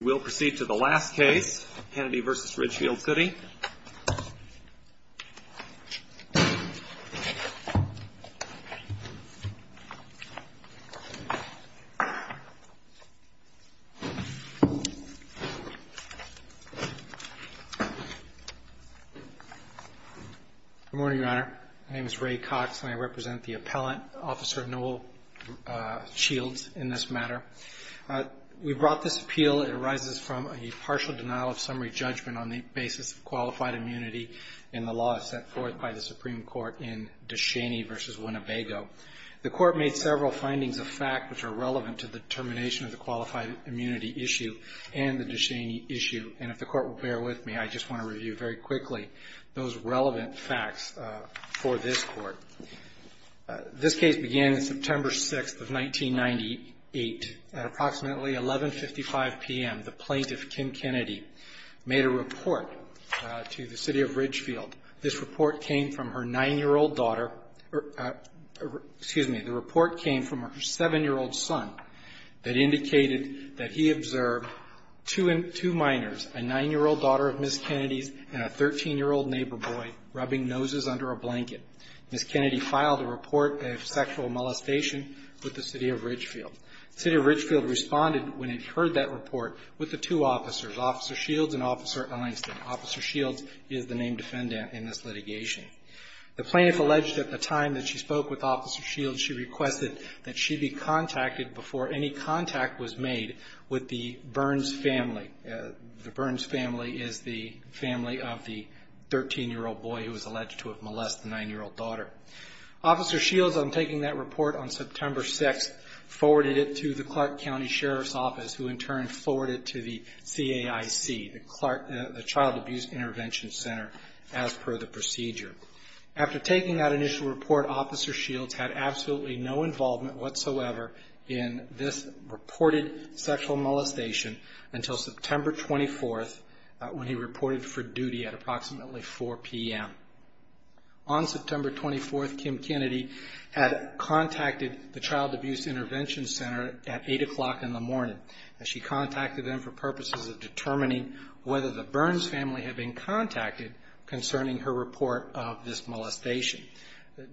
We'll proceed to the last case, Kennedy v. Ridgefield. Good morning, Your Honor. My name is Ray Cox, and I represent the appellant, Officer Noel Shields, in this matter. We brought this appeal. It arises from a partial denial of summary judgment on the basis of qualified immunity in the law as set forth by the Supreme Court in De Cheney v. Winnebago. The Court made several findings of fact which are relevant to the determination of the qualified immunity issue and the De Cheney issue, and if the Court will bear with me, I just want to review very quickly those relevant facts for this Court. This case began September 6th of 1998 at approximately 11.55 p.m. The plaintiff, Kim Kennedy, made a report to the City of Ridgefield. This report came from her 9-year-old daughter or, excuse me, the report came from her 7-year-old son that indicated that he observed two minors, a 9-year-old daughter of Ms. Kennedy's and a 13-year-old neighbor boy rubbing noses under a blanket. Ms. Kennedy filed a report of sexual molestation with the City of Ridgefield. The City of Ridgefield responded when it heard that report with the two officers, Officer Shields and Officer Einstein. Officer Shields is the named defendant in this litigation. The plaintiff alleged at the time that she spoke with Officer Shields, she requested that she be contacted before any contact was made with the Burns family. The Burns family is the family of the 13-year-old boy who was alleged to have molested the 9-year-old daughter. Officer Shields, on taking that report on September 6th, forwarded it to the Clark County Sheriff's Office, who in turn forwarded it to the CAIC, the Child Abuse Intervention Center, as per the procedure. After taking that initial report, Officer Shields had absolutely no involvement whatsoever in this reported sexual molestation until September 24th, when he reported for duty at approximately 4 p.m. On September 24th, Kim Kennedy had contacted the Child Abuse Intervention Center at 8 o'clock in the morning. She contacted them for purposes of determining whether the Burns family had been contacted concerning her report of this molestation.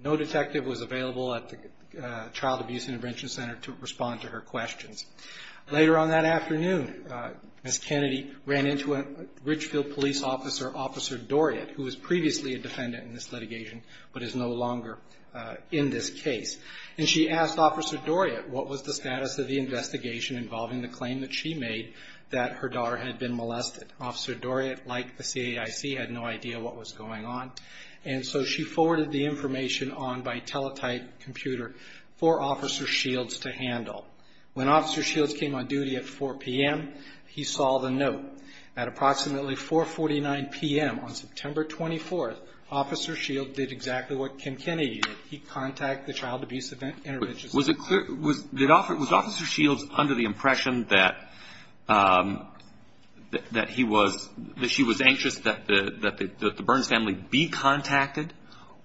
No detective was available at the Child Abuse Intervention Center to respond to her questions. Later on that afternoon, Ms. Kennedy ran into a Ridgefield police officer, Officer Doriot, who was previously a defendant in this litigation but is no longer in this case. And she asked Officer Doriot what was the status of the investigation involving the claim that she made that her daughter had been molested. Officer Doriot, like the CAIC, had no idea what was going on, and so she forwarded the information on by teletype computer for Officer Shields to handle. When Officer Shields came on duty at 4 p.m., he saw the note. At approximately 4.49 p.m. on September 24th, Officer Shields did exactly what Kim Kennedy did. He contacted the Child Abuse Intervention Center. Was it clear, was Officer Shields under the impression that he was, that she was anxious that the Burns family be contacted?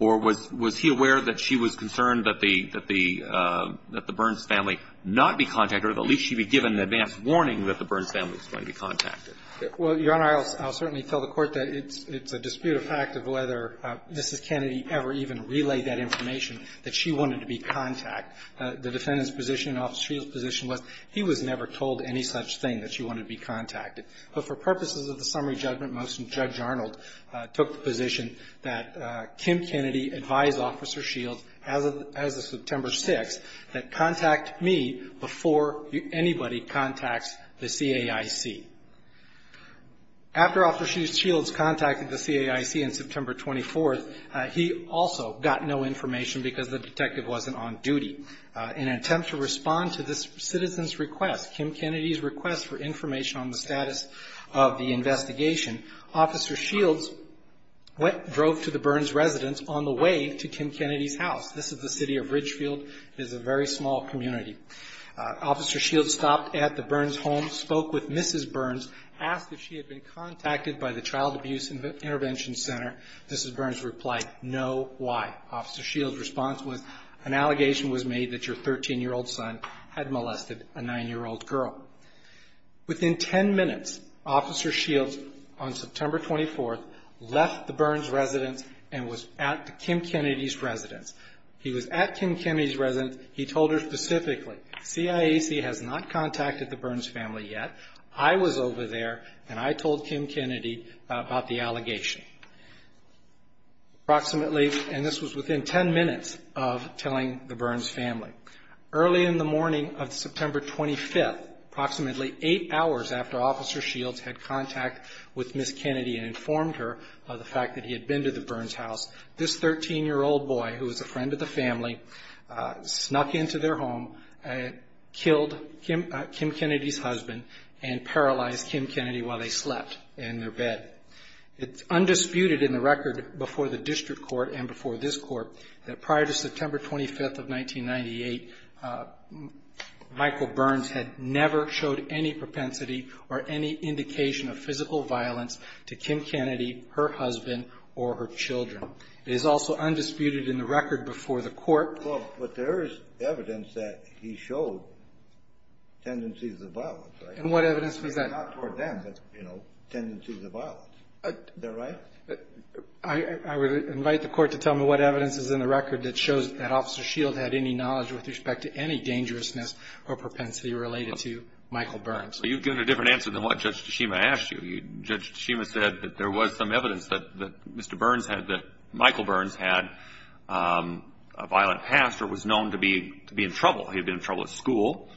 Or was he aware that she was concerned that the Burns family not be contacted, or at least she be given an advance warning that the Burns family was going to be contacted? Well, Your Honor, I'll certainly tell the Court that it's a disputed fact of whether Mrs. Kennedy ever even relayed that information, that she wanted to be contacted. The defendant's position and Officer Shields' position was he was never told any such thing, that she wanted to be contacted. But for purposes of the summary judgment motion, Judge Arnold took the position that Kim Kennedy advised Officer Shields as of September 6th that contact me before anybody contacts the CAIC. After Officer Shields contacted the CAIC on September 24th, he also got no information because the detective wasn't on duty. In an attempt to respond to this citizen's request, Kim Kennedy's request for information on the status of the investigation, Officer Shields drove to the Burns residence on the way to Kim Kennedy's house. This is the city of Ridgefield. It is a very small community. Officer Shields stopped at the Burns' home, spoke with Mrs. Burns, asked if she had been contacted by the Child Abuse Intervention Center. Mrs. Burns replied, no, why? Officer Shields' response was, an allegation was made that your 13-year-old son had molested a 9-year-old girl. Within 10 minutes, Officer Shields, on September 24th, left the Burns residence and was at Kim Kennedy's residence. He was at Kim Kennedy's residence. He told her specifically, CAIC has not contacted the Burns family yet. I was over there and I told Kim Kennedy about the allegation. Approximately, and this was within 10 minutes of telling the Burns family. Early in the morning of September 25th, approximately 8 hours after Officer Shields had contact with Mrs. Kennedy and informed her of the fact that he had been to the Burns' house, this 13-year-old boy, who was a friend of the family, snuck into their home, killed Kim Kennedy's husband, and paralyzed Kim Kennedy while they slept in their bed. It's undisputed in the record before the district court and before this court that prior to September 25th of 1998, Michael Burns had never showed any propensity or any indication of physical violence to Kim Kennedy, her husband, or her children. It is also undisputed in the record before the court. Well, but there is evidence that he showed tendencies of violence, right? And what evidence was that? Not toward them, but, you know, tendencies of violence. Is that right? I would invite the court to tell me what evidence is in the record that shows that Officer Shields had any knowledge with respect to any dangerousness or propensity related to Michael Burns. You've given a different answer than what Judge Tashima asked you. Judge Tashima said that there was some evidence that Mr. Burns had, that Michael Burns had a violent past or was known to be in trouble. He'd been in trouble at school.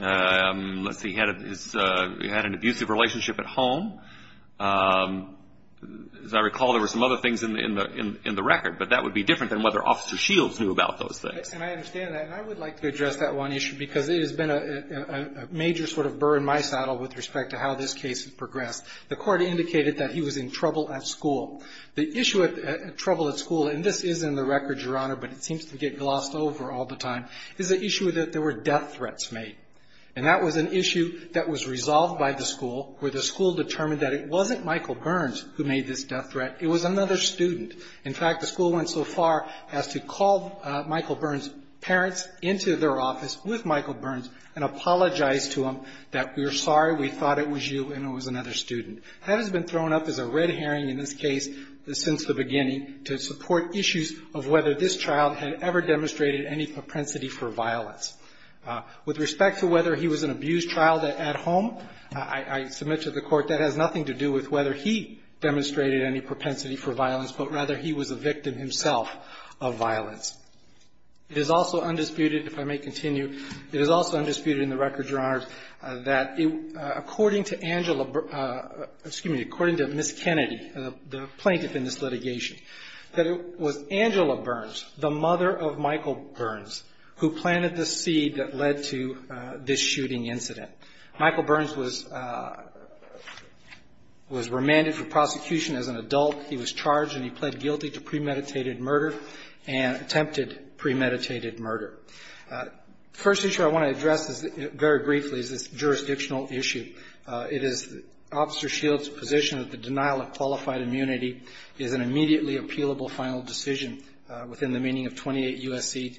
Let's see, he had an abusive relationship at home. As I recall, there were some other things in the record, but that would be different than whether Officer Shields knew about those things. And I understand that, and I would like to address that one issue, because it has been a major sort of burr in my saddle with respect to how this case has progressed. The court indicated that he was in trouble at school. The issue of trouble at school, and this is in the record, Your Honor, but it seems to get glossed over all the time, is the issue that there were death threats made. And that was an issue that was resolved by the school, where the school determined that it wasn't Michael Burns who made this death threat. It was another student. In fact, the school went so far as to call Michael Burns' parents into their office with Michael Burns and apologize to him that we're sorry, we thought it was you, and it was another student. That has been thrown up as a red herring in this case since the beginning to support issues of whether this child had ever demonstrated any propensity for violence. With respect to whether he was an abused child at home, I submit to the court that has nothing to do with whether he was a victim himself of violence. It is also undisputed, if I may continue, it is also undisputed in the record, Your Honor, that according to Angela, excuse me, according to Miss Kennedy, the plaintiff in this litigation, that it was Angela Burns, the mother of Michael Burns, who planted the seed that led to this shooting incident. He was charged and he pled guilty to premeditated murder and attempted premeditated murder. The first issue I want to address very briefly is this jurisdictional issue. It is Officer Shields' position that the denial of qualified immunity is an immediately appealable final decision within the meaning of 28 U.S.C.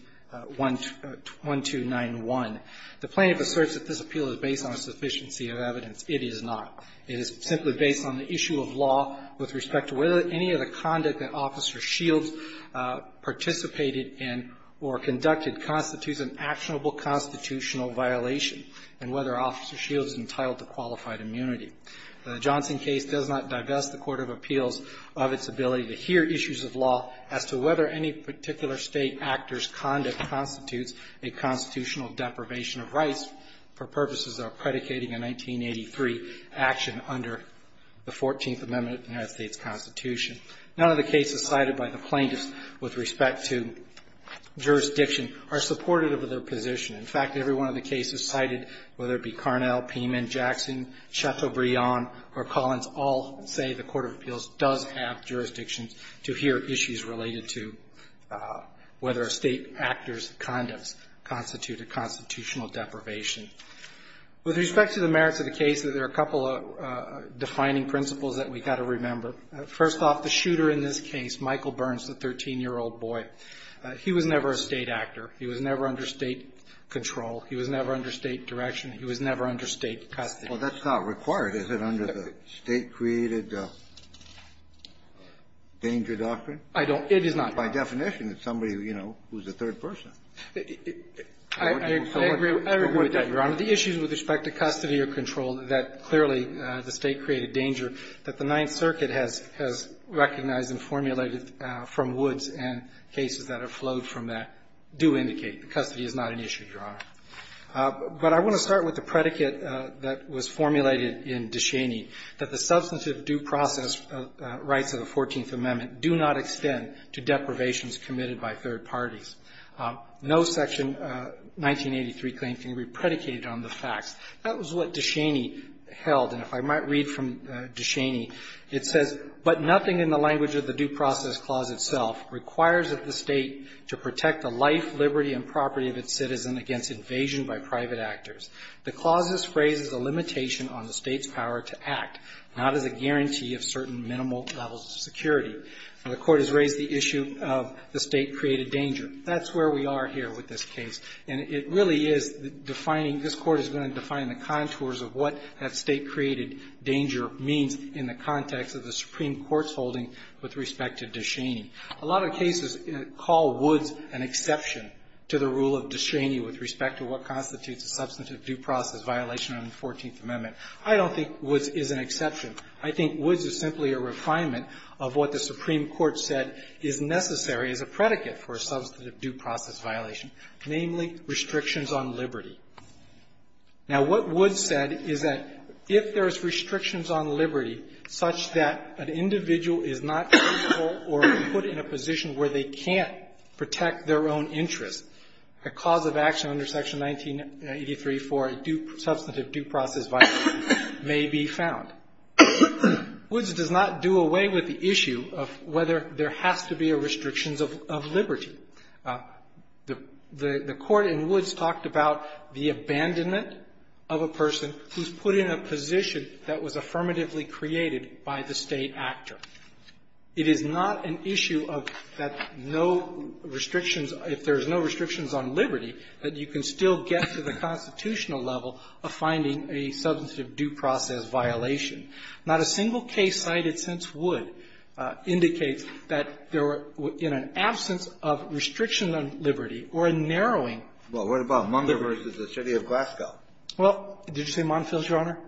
1291. The plaintiff asserts that this appeal is based on a sufficiency of evidence. It is not. It is simply based on the issue of law with respect to whether any of the conduct that Officer Shields participated in or conducted constitutes an actionable constitutional violation and whether Officer Shields is entitled to qualified immunity. The Johnson case does not divest the court of appeals of its ability to hear issues of law as to whether any particular State actor's conduct constitutes a constitutional deprivation of rights for action under the 14th Amendment of the United States Constitution. None of the cases cited by the plaintiffs with respect to jurisdiction are supportive of their position. In fact, every one of the cases cited, whether it be Carnell, Piman, Jackson, Chateaubriand, or Collins, all say the court of appeals does have jurisdictions to hear issues related to whether a State actor's conducts constitute a constitutional deprivation. With respect to the merits of the case, there are a couple of defining principles that we've got to remember. First off, the shooter in this case, Michael Burns, the 13-year-old boy, he was never a State actor. He was never under State control. He was never under State direction. He was never under State custody. Well, that's not required. Is it under the State-created danger doctrine? I don't. It is not. By definition, it's somebody, you know, who's a third person. I agree with that, Your Honor. The issues with respect to custody or control that clearly the State-created danger that the Ninth Circuit has recognized and formulated from Woods and cases that have flowed from that do indicate that custody is not an issue, Your Honor. But I want to start with the predicate that was formulated in Descheny, that the substantive due process rights of the Fourteenth Amendment do not extend to deprivations committed by third parties. No Section 1983 claim can be predicated on the facts. That was what Descheny held. And if I might read from Descheny, it says, but nothing in the language of the Due Process Clause itself requires of the State to protect the life, liberty, and property of its citizen against invasion by private actors. The clause's phrase is a limitation on the State's power to act, not as a guarantee of certain minimal levels of security. The Court has raised the issue of the State-created danger. That's where we are here with this case. And it really is defining, this Court is going to define the contours of what that State-created danger means in the context of the Supreme Court's holding with respect to Descheny. A lot of cases call Woods an exception to the rule of Descheny with respect to what constitutes a substantive due process violation on the Fourteenth Amendment. I don't think Woods is an exception. I think Woods is simply a refinement of what the Supreme Court said is necessary as a predicate for a substantive due process violation, namely, restrictions on liberty. Now, what Woods said is that if there's restrictions on liberty such that an individual is not capable or put in a position where they can't protect their own interests, a cause of action under Section 1983 for a substantive due process violation may be found. Woods does not do away with the issue of whether there has to be a restrictions of liberty. The Court in Woods talked about the abandonment of a person who's put in a position that was affirmatively created by the State actor. It is not an issue of that no restrictions, if there's no restrictions on liberty, that you can still get to the constitutional level of finding a substantive due process violation. Not a single case cited since Woods indicates that there were, in an absence of restrictions on liberty or a narrowing. Well, what about Munger v. The City of Glasgow? Well, did you say Monfils, Your Honor?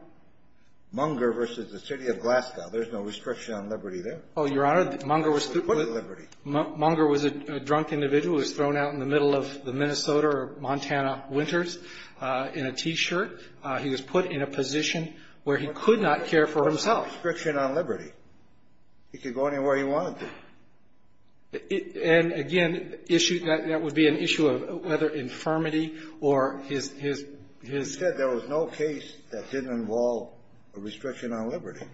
Munger v. The City of Glasgow. There's no restriction on liberty there. Oh, Your Honor, Munger was put at liberty. Munger was a drunk individual who was thrown out in the middle of the Minnesota or Montana winters in a T-shirt. He was put in a position where he could not care for himself. Restriction on liberty. He could go anywhere he wanted to. And, again, issue that would be an issue of whether infirmity or his his his Instead, there was no case that didn't involve a restriction on liberty.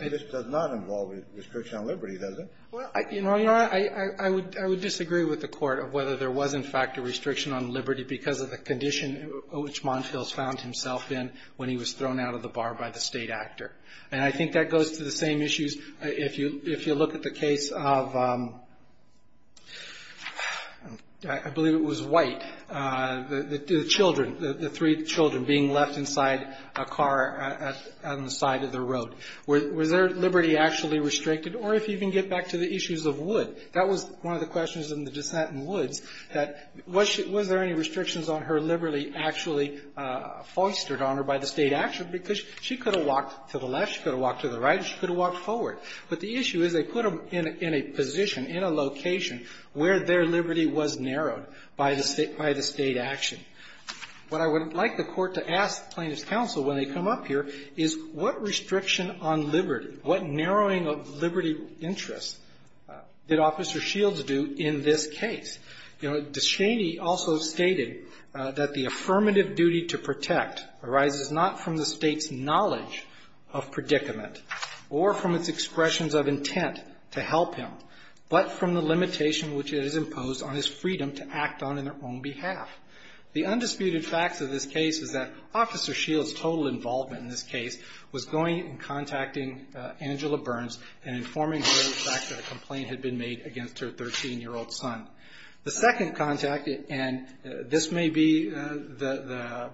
This does not involve a restriction on liberty, does it? Well, Your Honor, I would disagree with the Court of whether there was, in fact, a restriction on liberty because of the condition in which Monfils found himself in when he was thrown out of the bar by the state actor. And I think that goes to the same issues if you look at the case of, I believe it was White. The children, the three children being left inside a car on the side of the road. Was their liberty actually restricted? Or if you can get back to the issues of Wood. That was one of the questions in the Descent in Woods, that was there any restrictions on her liberty actually foistered on her by the state actor because she could have walked to the left, she could have walked to the right, she could have walked forward. But the issue is they put him in a position, in a location, where their liberty was narrowed by the state action. What I would like the Court to ask plaintiff's counsel when they come up here is what restriction on liberty, what narrowing of liberty interests did Officer Shields do in this case? You know, Descheny also stated that the affirmative duty to protect arises not from the state's knowledge of predicament or from its expressions of intent to help him. But from the limitation which is imposed on his freedom to act on their own behalf. The undisputed facts of this case is that Officer Shields' total involvement in this case was going and contacting Angela Burns and informing her of the fact that a complaint had been made against her 13-year-old son. The second contact, and this may be the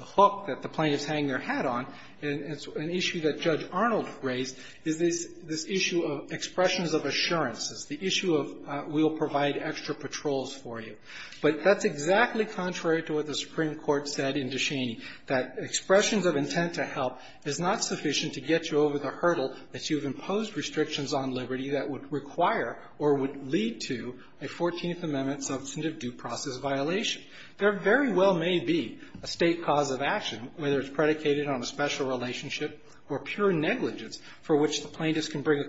hook that the plaintiffs hang their hat on, and it's an issue that Judge Arnold raised, is this issue of expressions of assurances. The issue of we'll provide extra patrols for you. But that's exactly contrary to what the Supreme Court said in Descheny, that expressions of intent to help is not sufficient to get you over the hurdle that you've imposed restrictions on liberty that would require or would lead to a Fourteenth Amendment substantive due process violation. There very well may be a State cause of action, whether it's predicated on a special relationship or pure negligence, for which the plaintiffs can bring a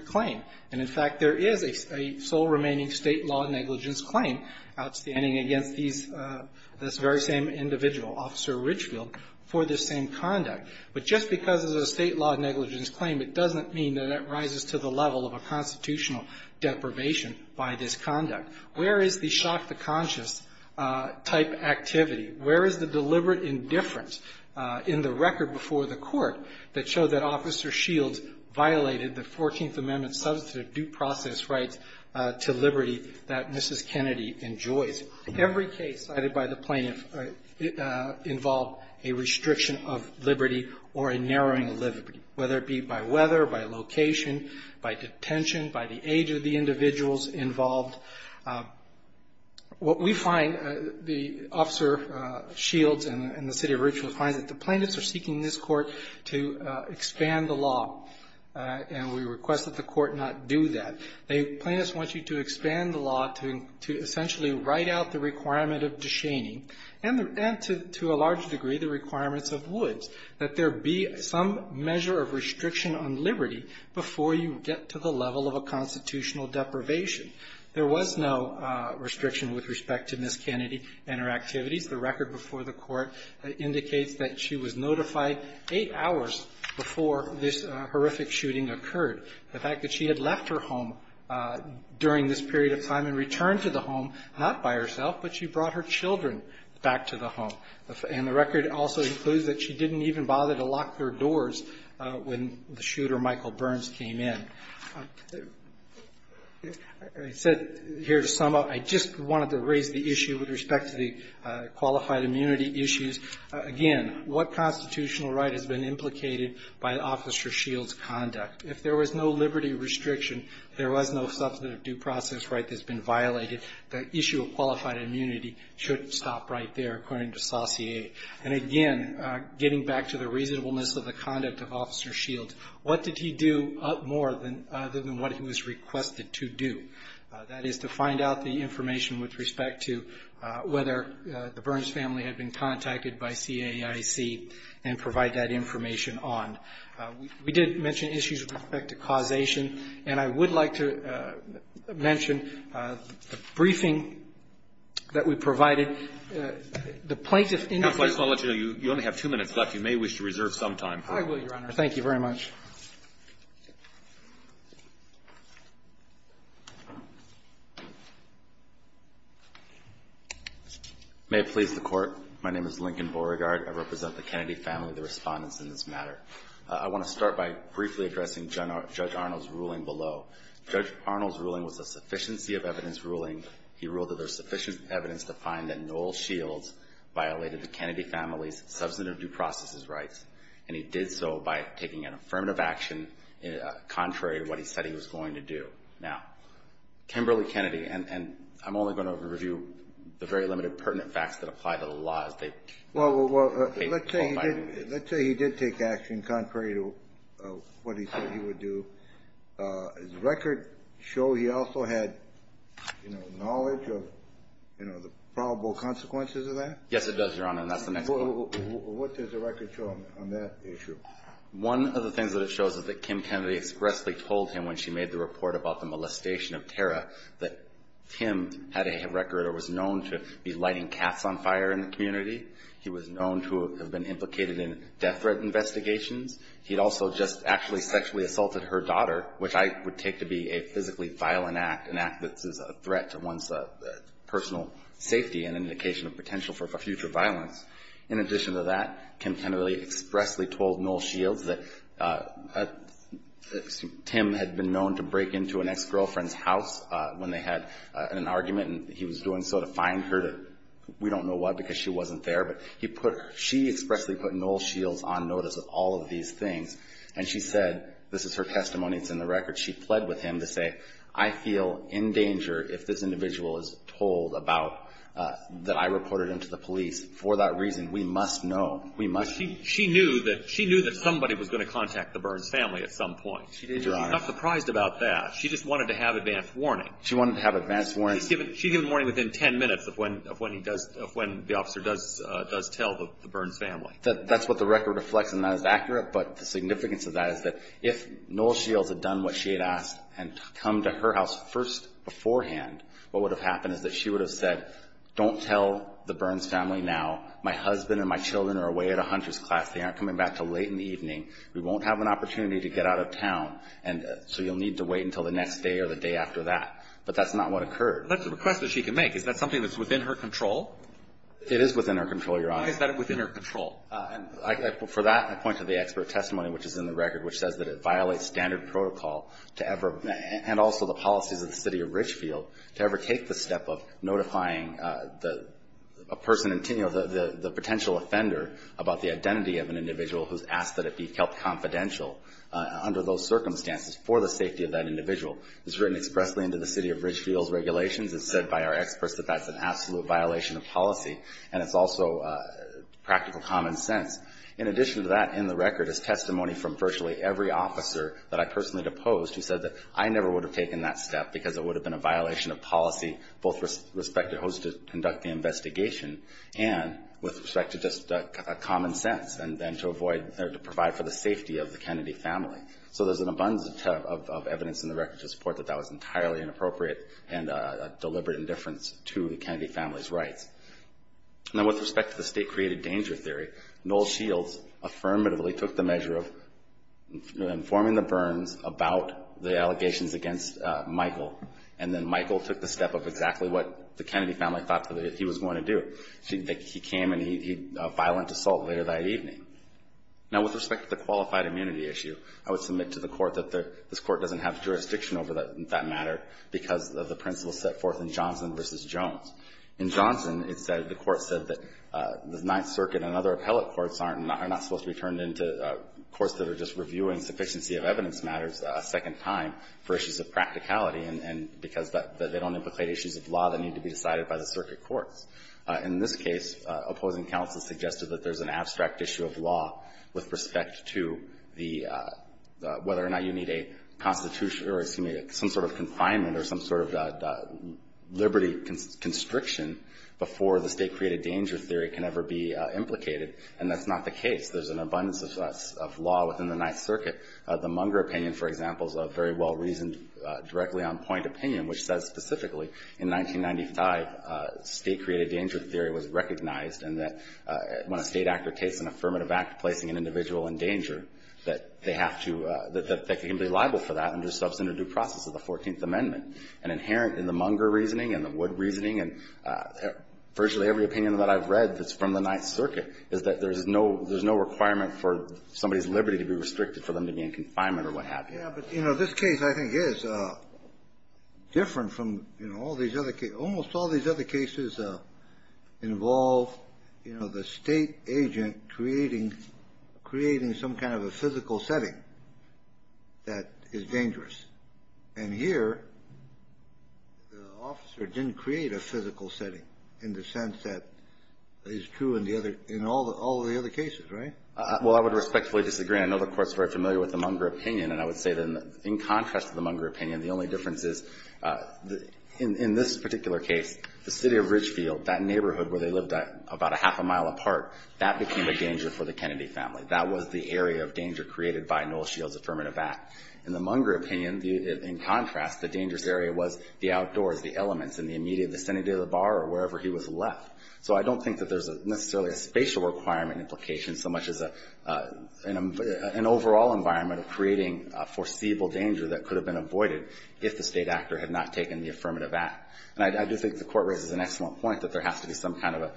claim. And, in fact, there is a sole remaining State law negligence claim outstanding against these, this very same individual, Officer Richfield, for this same conduct. But just because there's a State law negligence claim, it doesn't mean that it rises to the level of a constitutional deprivation by this conduct. Where is the shock-the-conscious type activity? Where is the deliberate indifference in the record before the Court that showed that Officer Shields violated the Fourteenth Amendment substantive due process rights to liberty that Mrs. Kennedy enjoys? Every case cited by the plaintiff involved a restriction of liberty or a narrowing of liberty, whether it be by weather, by location, by detention, by the age of the individuals involved. What we find, the Officer Shields and the City of Richfield find that the plaintiffs are seeking this Court to expand the law, and we request that the Court not do that. The plaintiffs want you to expand the law to essentially write out the requirement of de-shaming and, to a large degree, the requirements of Woods, that there be some measure of restriction on liberty before you get to the level of a constitutional deprivation. There was no restriction with respect to Mrs. Kennedy and her activities. The record before the Court indicates that she was notified eight hours before this horrific shooting occurred. The fact that she had left her home during this period of time and returned to the home, not by herself, but she brought her children back to the home. And the record also includes that she didn't even bother to lock their doors when the shooter, Michael Burns, came in. I said here to sum up, I just wanted to raise the issue with respect to the qualified immunity issues. Again, what constitutional right has been implicated by Officer Shields' conduct? If there was no liberty restriction, there was no substantive due process right that's been violated, the issue of qualified immunity should stop right there, according to Saussure. And again, getting back to the reasonableness of the conduct of Officer Shields, what did he do more than what he was requested to do? That is, to find out the information with respect to whether the Burns family had been contacted by CAIC and provide that information on. We did mention issues with respect to causation, and I would like to mention the briefing that we provided. The plaintiff in this case... Counsel, I just want to let you know, you only have two minutes left. You may wish to reserve some time for it. I will, Your Honor. Thank you very much. May it please the Court. My name is Lincoln Beauregard. I represent the Kennedy family, the respondents in this matter. I want to start by briefly addressing Judge Arnold's ruling below. Judge Arnold's ruling was a sufficiency of evidence ruling. He ruled that there's sufficient evidence to find that Noel Shields violated the Kennedy family's substantive due process rights, and he did so by taking an affirmative action contrary to what he said he was going to do. Now, Kimberly-Kennedy, and I'm only going to review the very limited pertinent facts that apply to the law as they... Well, let's say he did take action contrary to what he said he would do. Does the record show he also had knowledge of the probable consequences of that? Yes, it does, Your Honor, and that's the next point. What does the record show on that issue? One of the things that it shows is that Kim Kennedy expressly told him when she made the report about the molestation of Tara that Tim had a record or was known to be lighting cats on fire in the community. He was known to have been implicated in death threat investigations. He'd also just actually sexually assaulted her daughter, which I would take to be a physically violent act, an act that's a threat to one's personal safety and indication of potential for future violence. In addition to that, Kim Kennedy expressly told Noel Shields that Tim had been known to break into an ex-girlfriend's house when they had an argument, and he was doing so to fine her, we don't know why, because she wasn't there. But she expressly put Noel Shields on notice of all of these things, and she said, this is her testimony, it's in the record, she pled with him to say, I feel in danger if this individual is told that I reported him to the police. For that reason, we must know, we must... She knew that somebody was going to contact the Burns family at some point. She's not surprised about that. She just wanted to have advance warning. She wanted to have advance warning. She gives warning within 10 minutes of when the officer does tell the Burns family. That's what the record reflects, and that is accurate, but the significance of that is that if Noel Shields had done what she had asked and come to her house first beforehand, what would have happened is that she would have said, don't tell the Burns family now. My husband and my children are away at a hunter's class. They aren't coming back till late in the evening. We won't have an opportunity to get out of town, so you'll need to wait until the next day or the day after that. But that's not what occurred. But that's a request that she can make. Is that something that's within her control? It is within her control, Your Honor. Why is that within her control? For that, I point to the expert testimony, which is in the record, which says that it violates standard protocol to ever, and also the policies of the city of Richfield, to ever take the step of notifying a person, the potential offender about the identity of an individual who's asked that it be held confidential under those circumstances for the safety of that individual. It's written expressly into the city of Richfield's regulations. It's said by our experts that that's an absolute violation of policy, and it's also practical common sense. In addition to that, in the record is testimony from virtually every officer that I personally deposed who said that I never would have taken that step because it would have been a violation of policy, both with respect to who's to conduct the investigation and with respect to just common sense, and then to provide for the safety of the Kennedy family. So there's an abundance of evidence in the record to support that that was entirely inappropriate and a deliberate indifference to the Kennedy family's rights. Now, with respect to the state-created danger theory, Noel Shields affirmatively took the measure of informing the Burns about the allegations against Michael, and then Michael took the step of exactly what the Kennedy family thought that he was going to do. He came and he had a violent assault later that evening. Now, with respect to the qualified immunity issue, I would submit to the Court that this Court doesn't have jurisdiction over that matter because of the principles set forth in Johnson v. Jones. In Johnson, it said, the Court said that the Ninth Circuit and other appellate courts are not supposed to be turned into courts that are just reviewing sufficiency of evidence matters a second time for issues of practicality because they don't implicate issues of law that need to be decided by the circuit courts. In this case, opposing counsel suggested that there's an abstract issue of law with respect to the, whether or not you need a constitution or, excuse me, some sort of confinement or some sort of liberty constriction before the state-created danger theory can ever be implicated, and that's not the case. There's an abundance of law within the Ninth Circuit. The Munger opinion, for example, is a very well-reasoned, directly on point opinion, which says specifically, in 1995, state-created danger theory was recognized and that when a state actor takes an affirmative act placing an individual in danger, that they have to, that they can be liable for that under the substantive due process of the Fourteenth Amendment. And inherent in the Munger reasoning and the Wood reasoning and virtually every opinion that I've read that's from the Ninth Circuit is that there's no requirement for somebody's liberty to be restricted for them to be in confinement or what have you. Yeah, but, you know, this case, I think, is different from, you know, all these other cases. Almost all these other cases involve, you know, the state agent creating some kind of a physical setting that is dangerous. And here, the officer didn't create a physical setting in the sense that is true in all the other cases, right? Well, I would respectfully disagree. I know the Court's very familiar with the Munger opinion, and I would say that in contrast to the Munger opinion, the only difference is in this particular case, the city of Ridgefield, that neighborhood where they lived about a half a mile apart, that became a danger for the Kennedy family. That was the area of danger created by Noel Shields' affirmative act. In the Munger opinion, in contrast, the dangerous area was the outdoors, the elements in the immediate vicinity of the bar or wherever he was left. So I don't think that there's necessarily a spatial requirement implication so much as an overall environment of creating foreseeable danger that could have been avoided if the state actor had not taken the affirmative act. And I do think the Court raises an excellent point that there has to be some kind of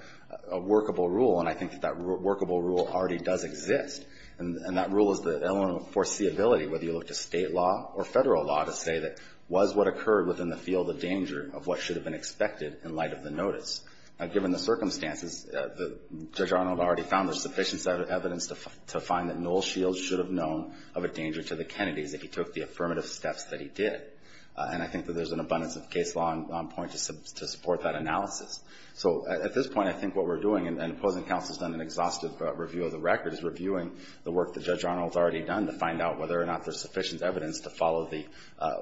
a workable rule, and I think that that workable rule already does exist. And that rule is the element of foreseeability, whether you look to state law or federal law to say that was what occurred within the field of danger of what should have been expected in light of the notice. Now, given the circumstances, Judge Arnold already found there's sufficient evidence to find that Noel Shields should have known of a danger to the Kennedys if he took the affirmative steps that he did. And I think that there's an abundance of case law on point to support that analysis. So at this point, I think what we're doing, and opposing counsel's done an exhaustive review of the record, is reviewing the work that Judge Arnold's already done to find out whether or not there's sufficient evidence to follow the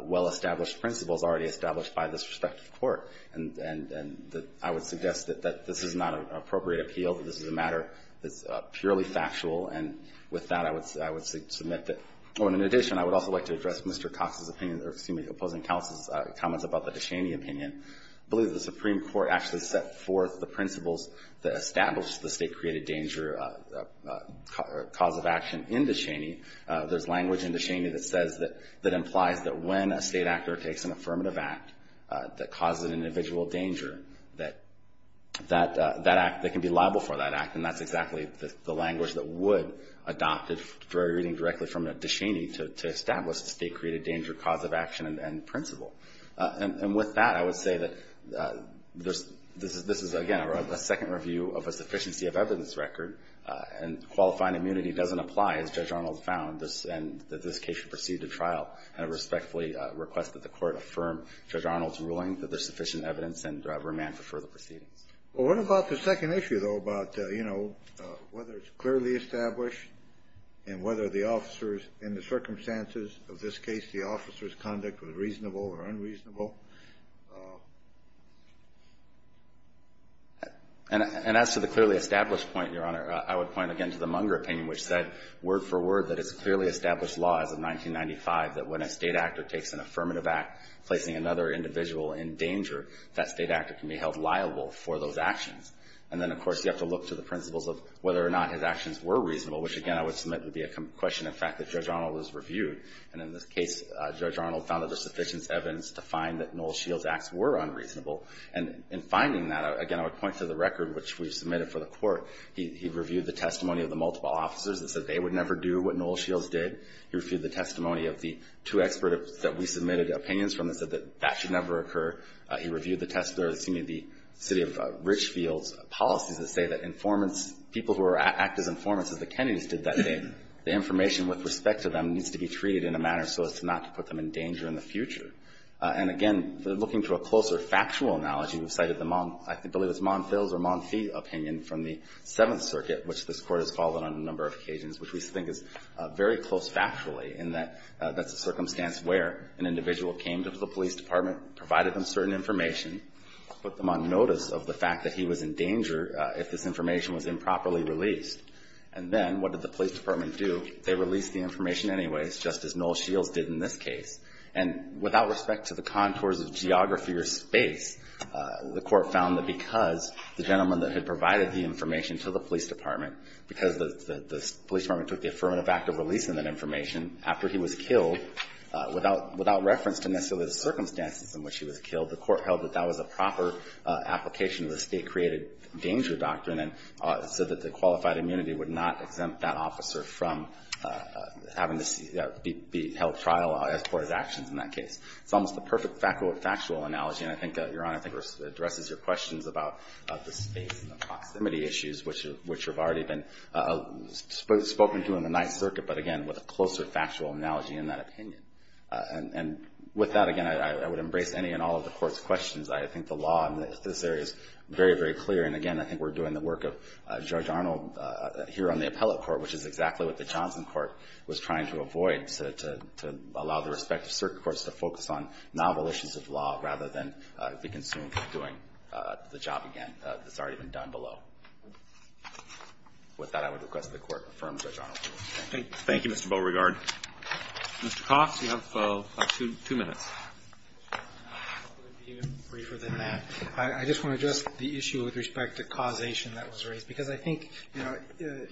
well-established principles already established by this respective Court. And I would suggest that this is not an appropriate appeal, that this is a matter that's purely factual. And with that, I would submit that. Oh, and in addition, I would also like to address Mr. Cox's opinion, or excuse me, opposing counsel's comments about the De Cheney opinion. I believe the Supreme Court actually set forth the principles that established the state-created danger cause of action in De Cheney. There's language in De Cheney that says that it implies that when a state actor takes an affirmative act that causes an individual danger, that that act, they can be liable for that act. And that's exactly the language that would adopt it, reading directly from De Cheney, to establish the state-created danger cause of action and principle. And with that, I would say that this is, again, a second review of a sufficiency of evidence record, and qualifying immunity doesn't apply, as Judge Arnold found, and that this case should proceed to trial. And I respectfully request that the Court affirm Judge Arnold's ruling that there's sufficient evidence and remand for further proceedings. Kennedy. Well, what about the second issue, though, about, you know, whether it's clearly established and whether the officer's, in the circumstances of this case, the officer's conduct was reasonable or unreasonable? And as to the clearly established point, Your Honor, I would point again to the Munger opinion, which said, word for word, that it's clearly established law as of 1995, that when a state actor takes an affirmative act, placing another individual in danger, that state actor can be held liable for those actions. And then, of course, you have to look to the principles of whether or not his actions were reasonable, which, again, I would submit would be a question of fact that Judge Arnold has reviewed. And in this case, Judge Arnold found that there's sufficient evidence to find that Noel Shields' acts were unreasonable. And in finding that, again, I would point to the record which we've submitted for the Court. He reviewed the testimony of the multiple officers that said they would never do what Noel Shields did. He reviewed the testimony of the two experts that we submitted opinions from that said that that should never occur. He reviewed the testimony of the city of Richfield's policies that say that informants, people who act as informants as the Kennedys did that day, the information with respect to them needs to be treated in a manner so as not to put them in danger in the future. And again, looking to a closer factual analogy, we've cited the, I believe it's Monfils or Monfils opinion from the Seventh Circuit, which this Court has followed on a number of occasions, which we think is very close factually, in that that's a circumstance where an individual came to the police department, provided them certain information, put them on notice of the fact that he was in danger if this information was improperly released. And then what did the police department do? They released the information anyways, just as Noel Shields did in this case. And without respect to the contours of geography or space, the Court found that because the gentleman that had provided the information to the police department, because the police department took the affirmative act of releasing that information after he was killed, without reference to necessarily the circumstances in which he was killed, the Court held that that was a proper application of the State-created danger doctrine, and said that the qualified immunity would not exempt that officer from having to be held trial as part of his actions in that case. It's almost the perfect factual analogy, and I think, Your Honor, I think addresses your questions about the space and the proximity issues, which have already been spoken to in the Ninth Circuit, but again, with a closer factual analogy in that opinion. And with that, again, I would embrace any and all of the Court's questions. I think the law in this area is very, very clear, and again, I think we're doing the work of Judge Arnold here on the appellate court, which is exactly what the Johnson court was trying to avoid, to allow the respective circuit courts to focus on novel issues of law, rather than, as we can assume, doing the job again that's already been done below. With that, I would request that the Court affirm Judge Arnold's ruling. Thank you. Roberts. Thank you, Mr. Beauregard. Mr. Cox, you have two minutes. I'll be even briefer than that. I just want to address the issue with respect to causation that was raised, because I think, you know,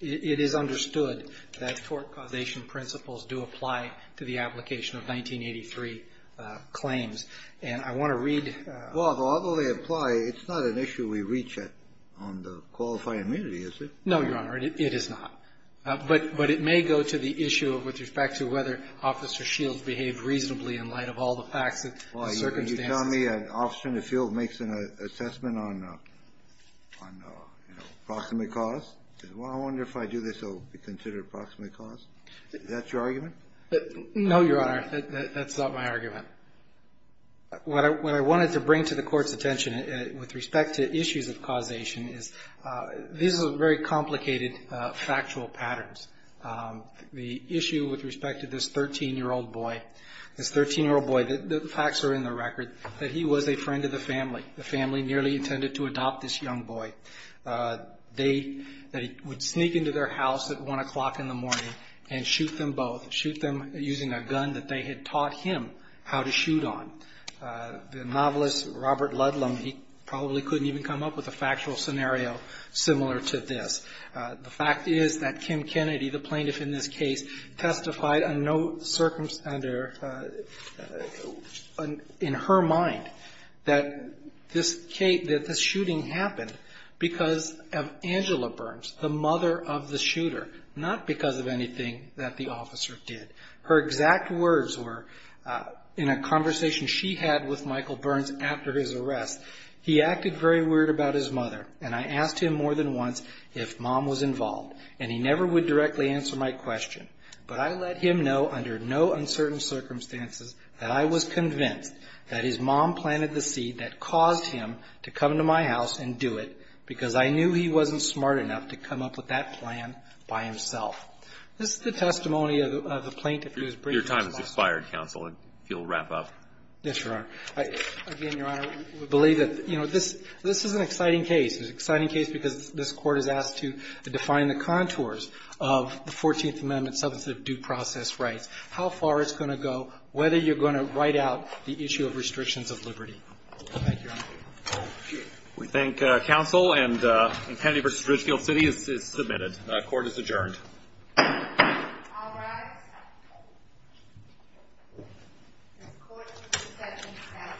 it is understood that tort causation principles do apply to the claims, and I want to read the question. Well, although they apply, it's not an issue we reach at on the qualified immunity, is it? No, Your Honor, it is not. But it may go to the issue with respect to whether Officer Shields behaved reasonably in light of all the facts and circumstances. Well, you're telling me an officer in the field makes an assessment on, you know, approximate cause? I wonder if I do this, it will be considered approximate cause? Is that your argument? No, Your Honor. That's not my argument. What I wanted to bring to the Court's attention with respect to issues of causation is these are very complicated factual patterns. The issue with respect to this 13-year-old boy, this 13-year-old boy, the facts are in the record that he was a friend of the family. The family nearly intended to adopt this young boy. They would sneak into their house at 1 o'clock in the morning and shoot them both, shoot them using a gun that they had taught him how to shoot on. The novelist, Robert Ludlam, he probably couldn't even come up with a factual scenario similar to this. The fact is that Kim Kennedy, the plaintiff in this case, testified under no circumstance in her mind that this shooting happened because of Angela Burns, the mother of the shooter, not because of anything that the officer did. Her exact words were, in a conversation she had with Michael Burns after his arrest, he acted very weird about his mother, and I asked him more than once if mom was involved, and he never would directly answer my question. But I let him know under no uncertain circumstances that I was convinced that his mom planted the seed that caused him to come to my house and do it because I didn't want him to come up with that plan by himself. This is the testimony of the plaintiff who was briefed in this case. Your time has expired, counsel, if you'll wrap up. Yes, Your Honor. Again, Your Honor, we believe that, you know, this is an exciting case. It's an exciting case because this Court has asked to define the contours of the Fourteenth Amendment substantive due process rights, how far it's going to go, whether you're going to write out the issue of restrictions of liberty. Thank you, Your Honor. Thank you. We thank counsel and Kennedy v. Ridgefield City is submitted. Court is adjourned. All rise. This Court is in session at adjourn. Thank you. Thank you. Thank you.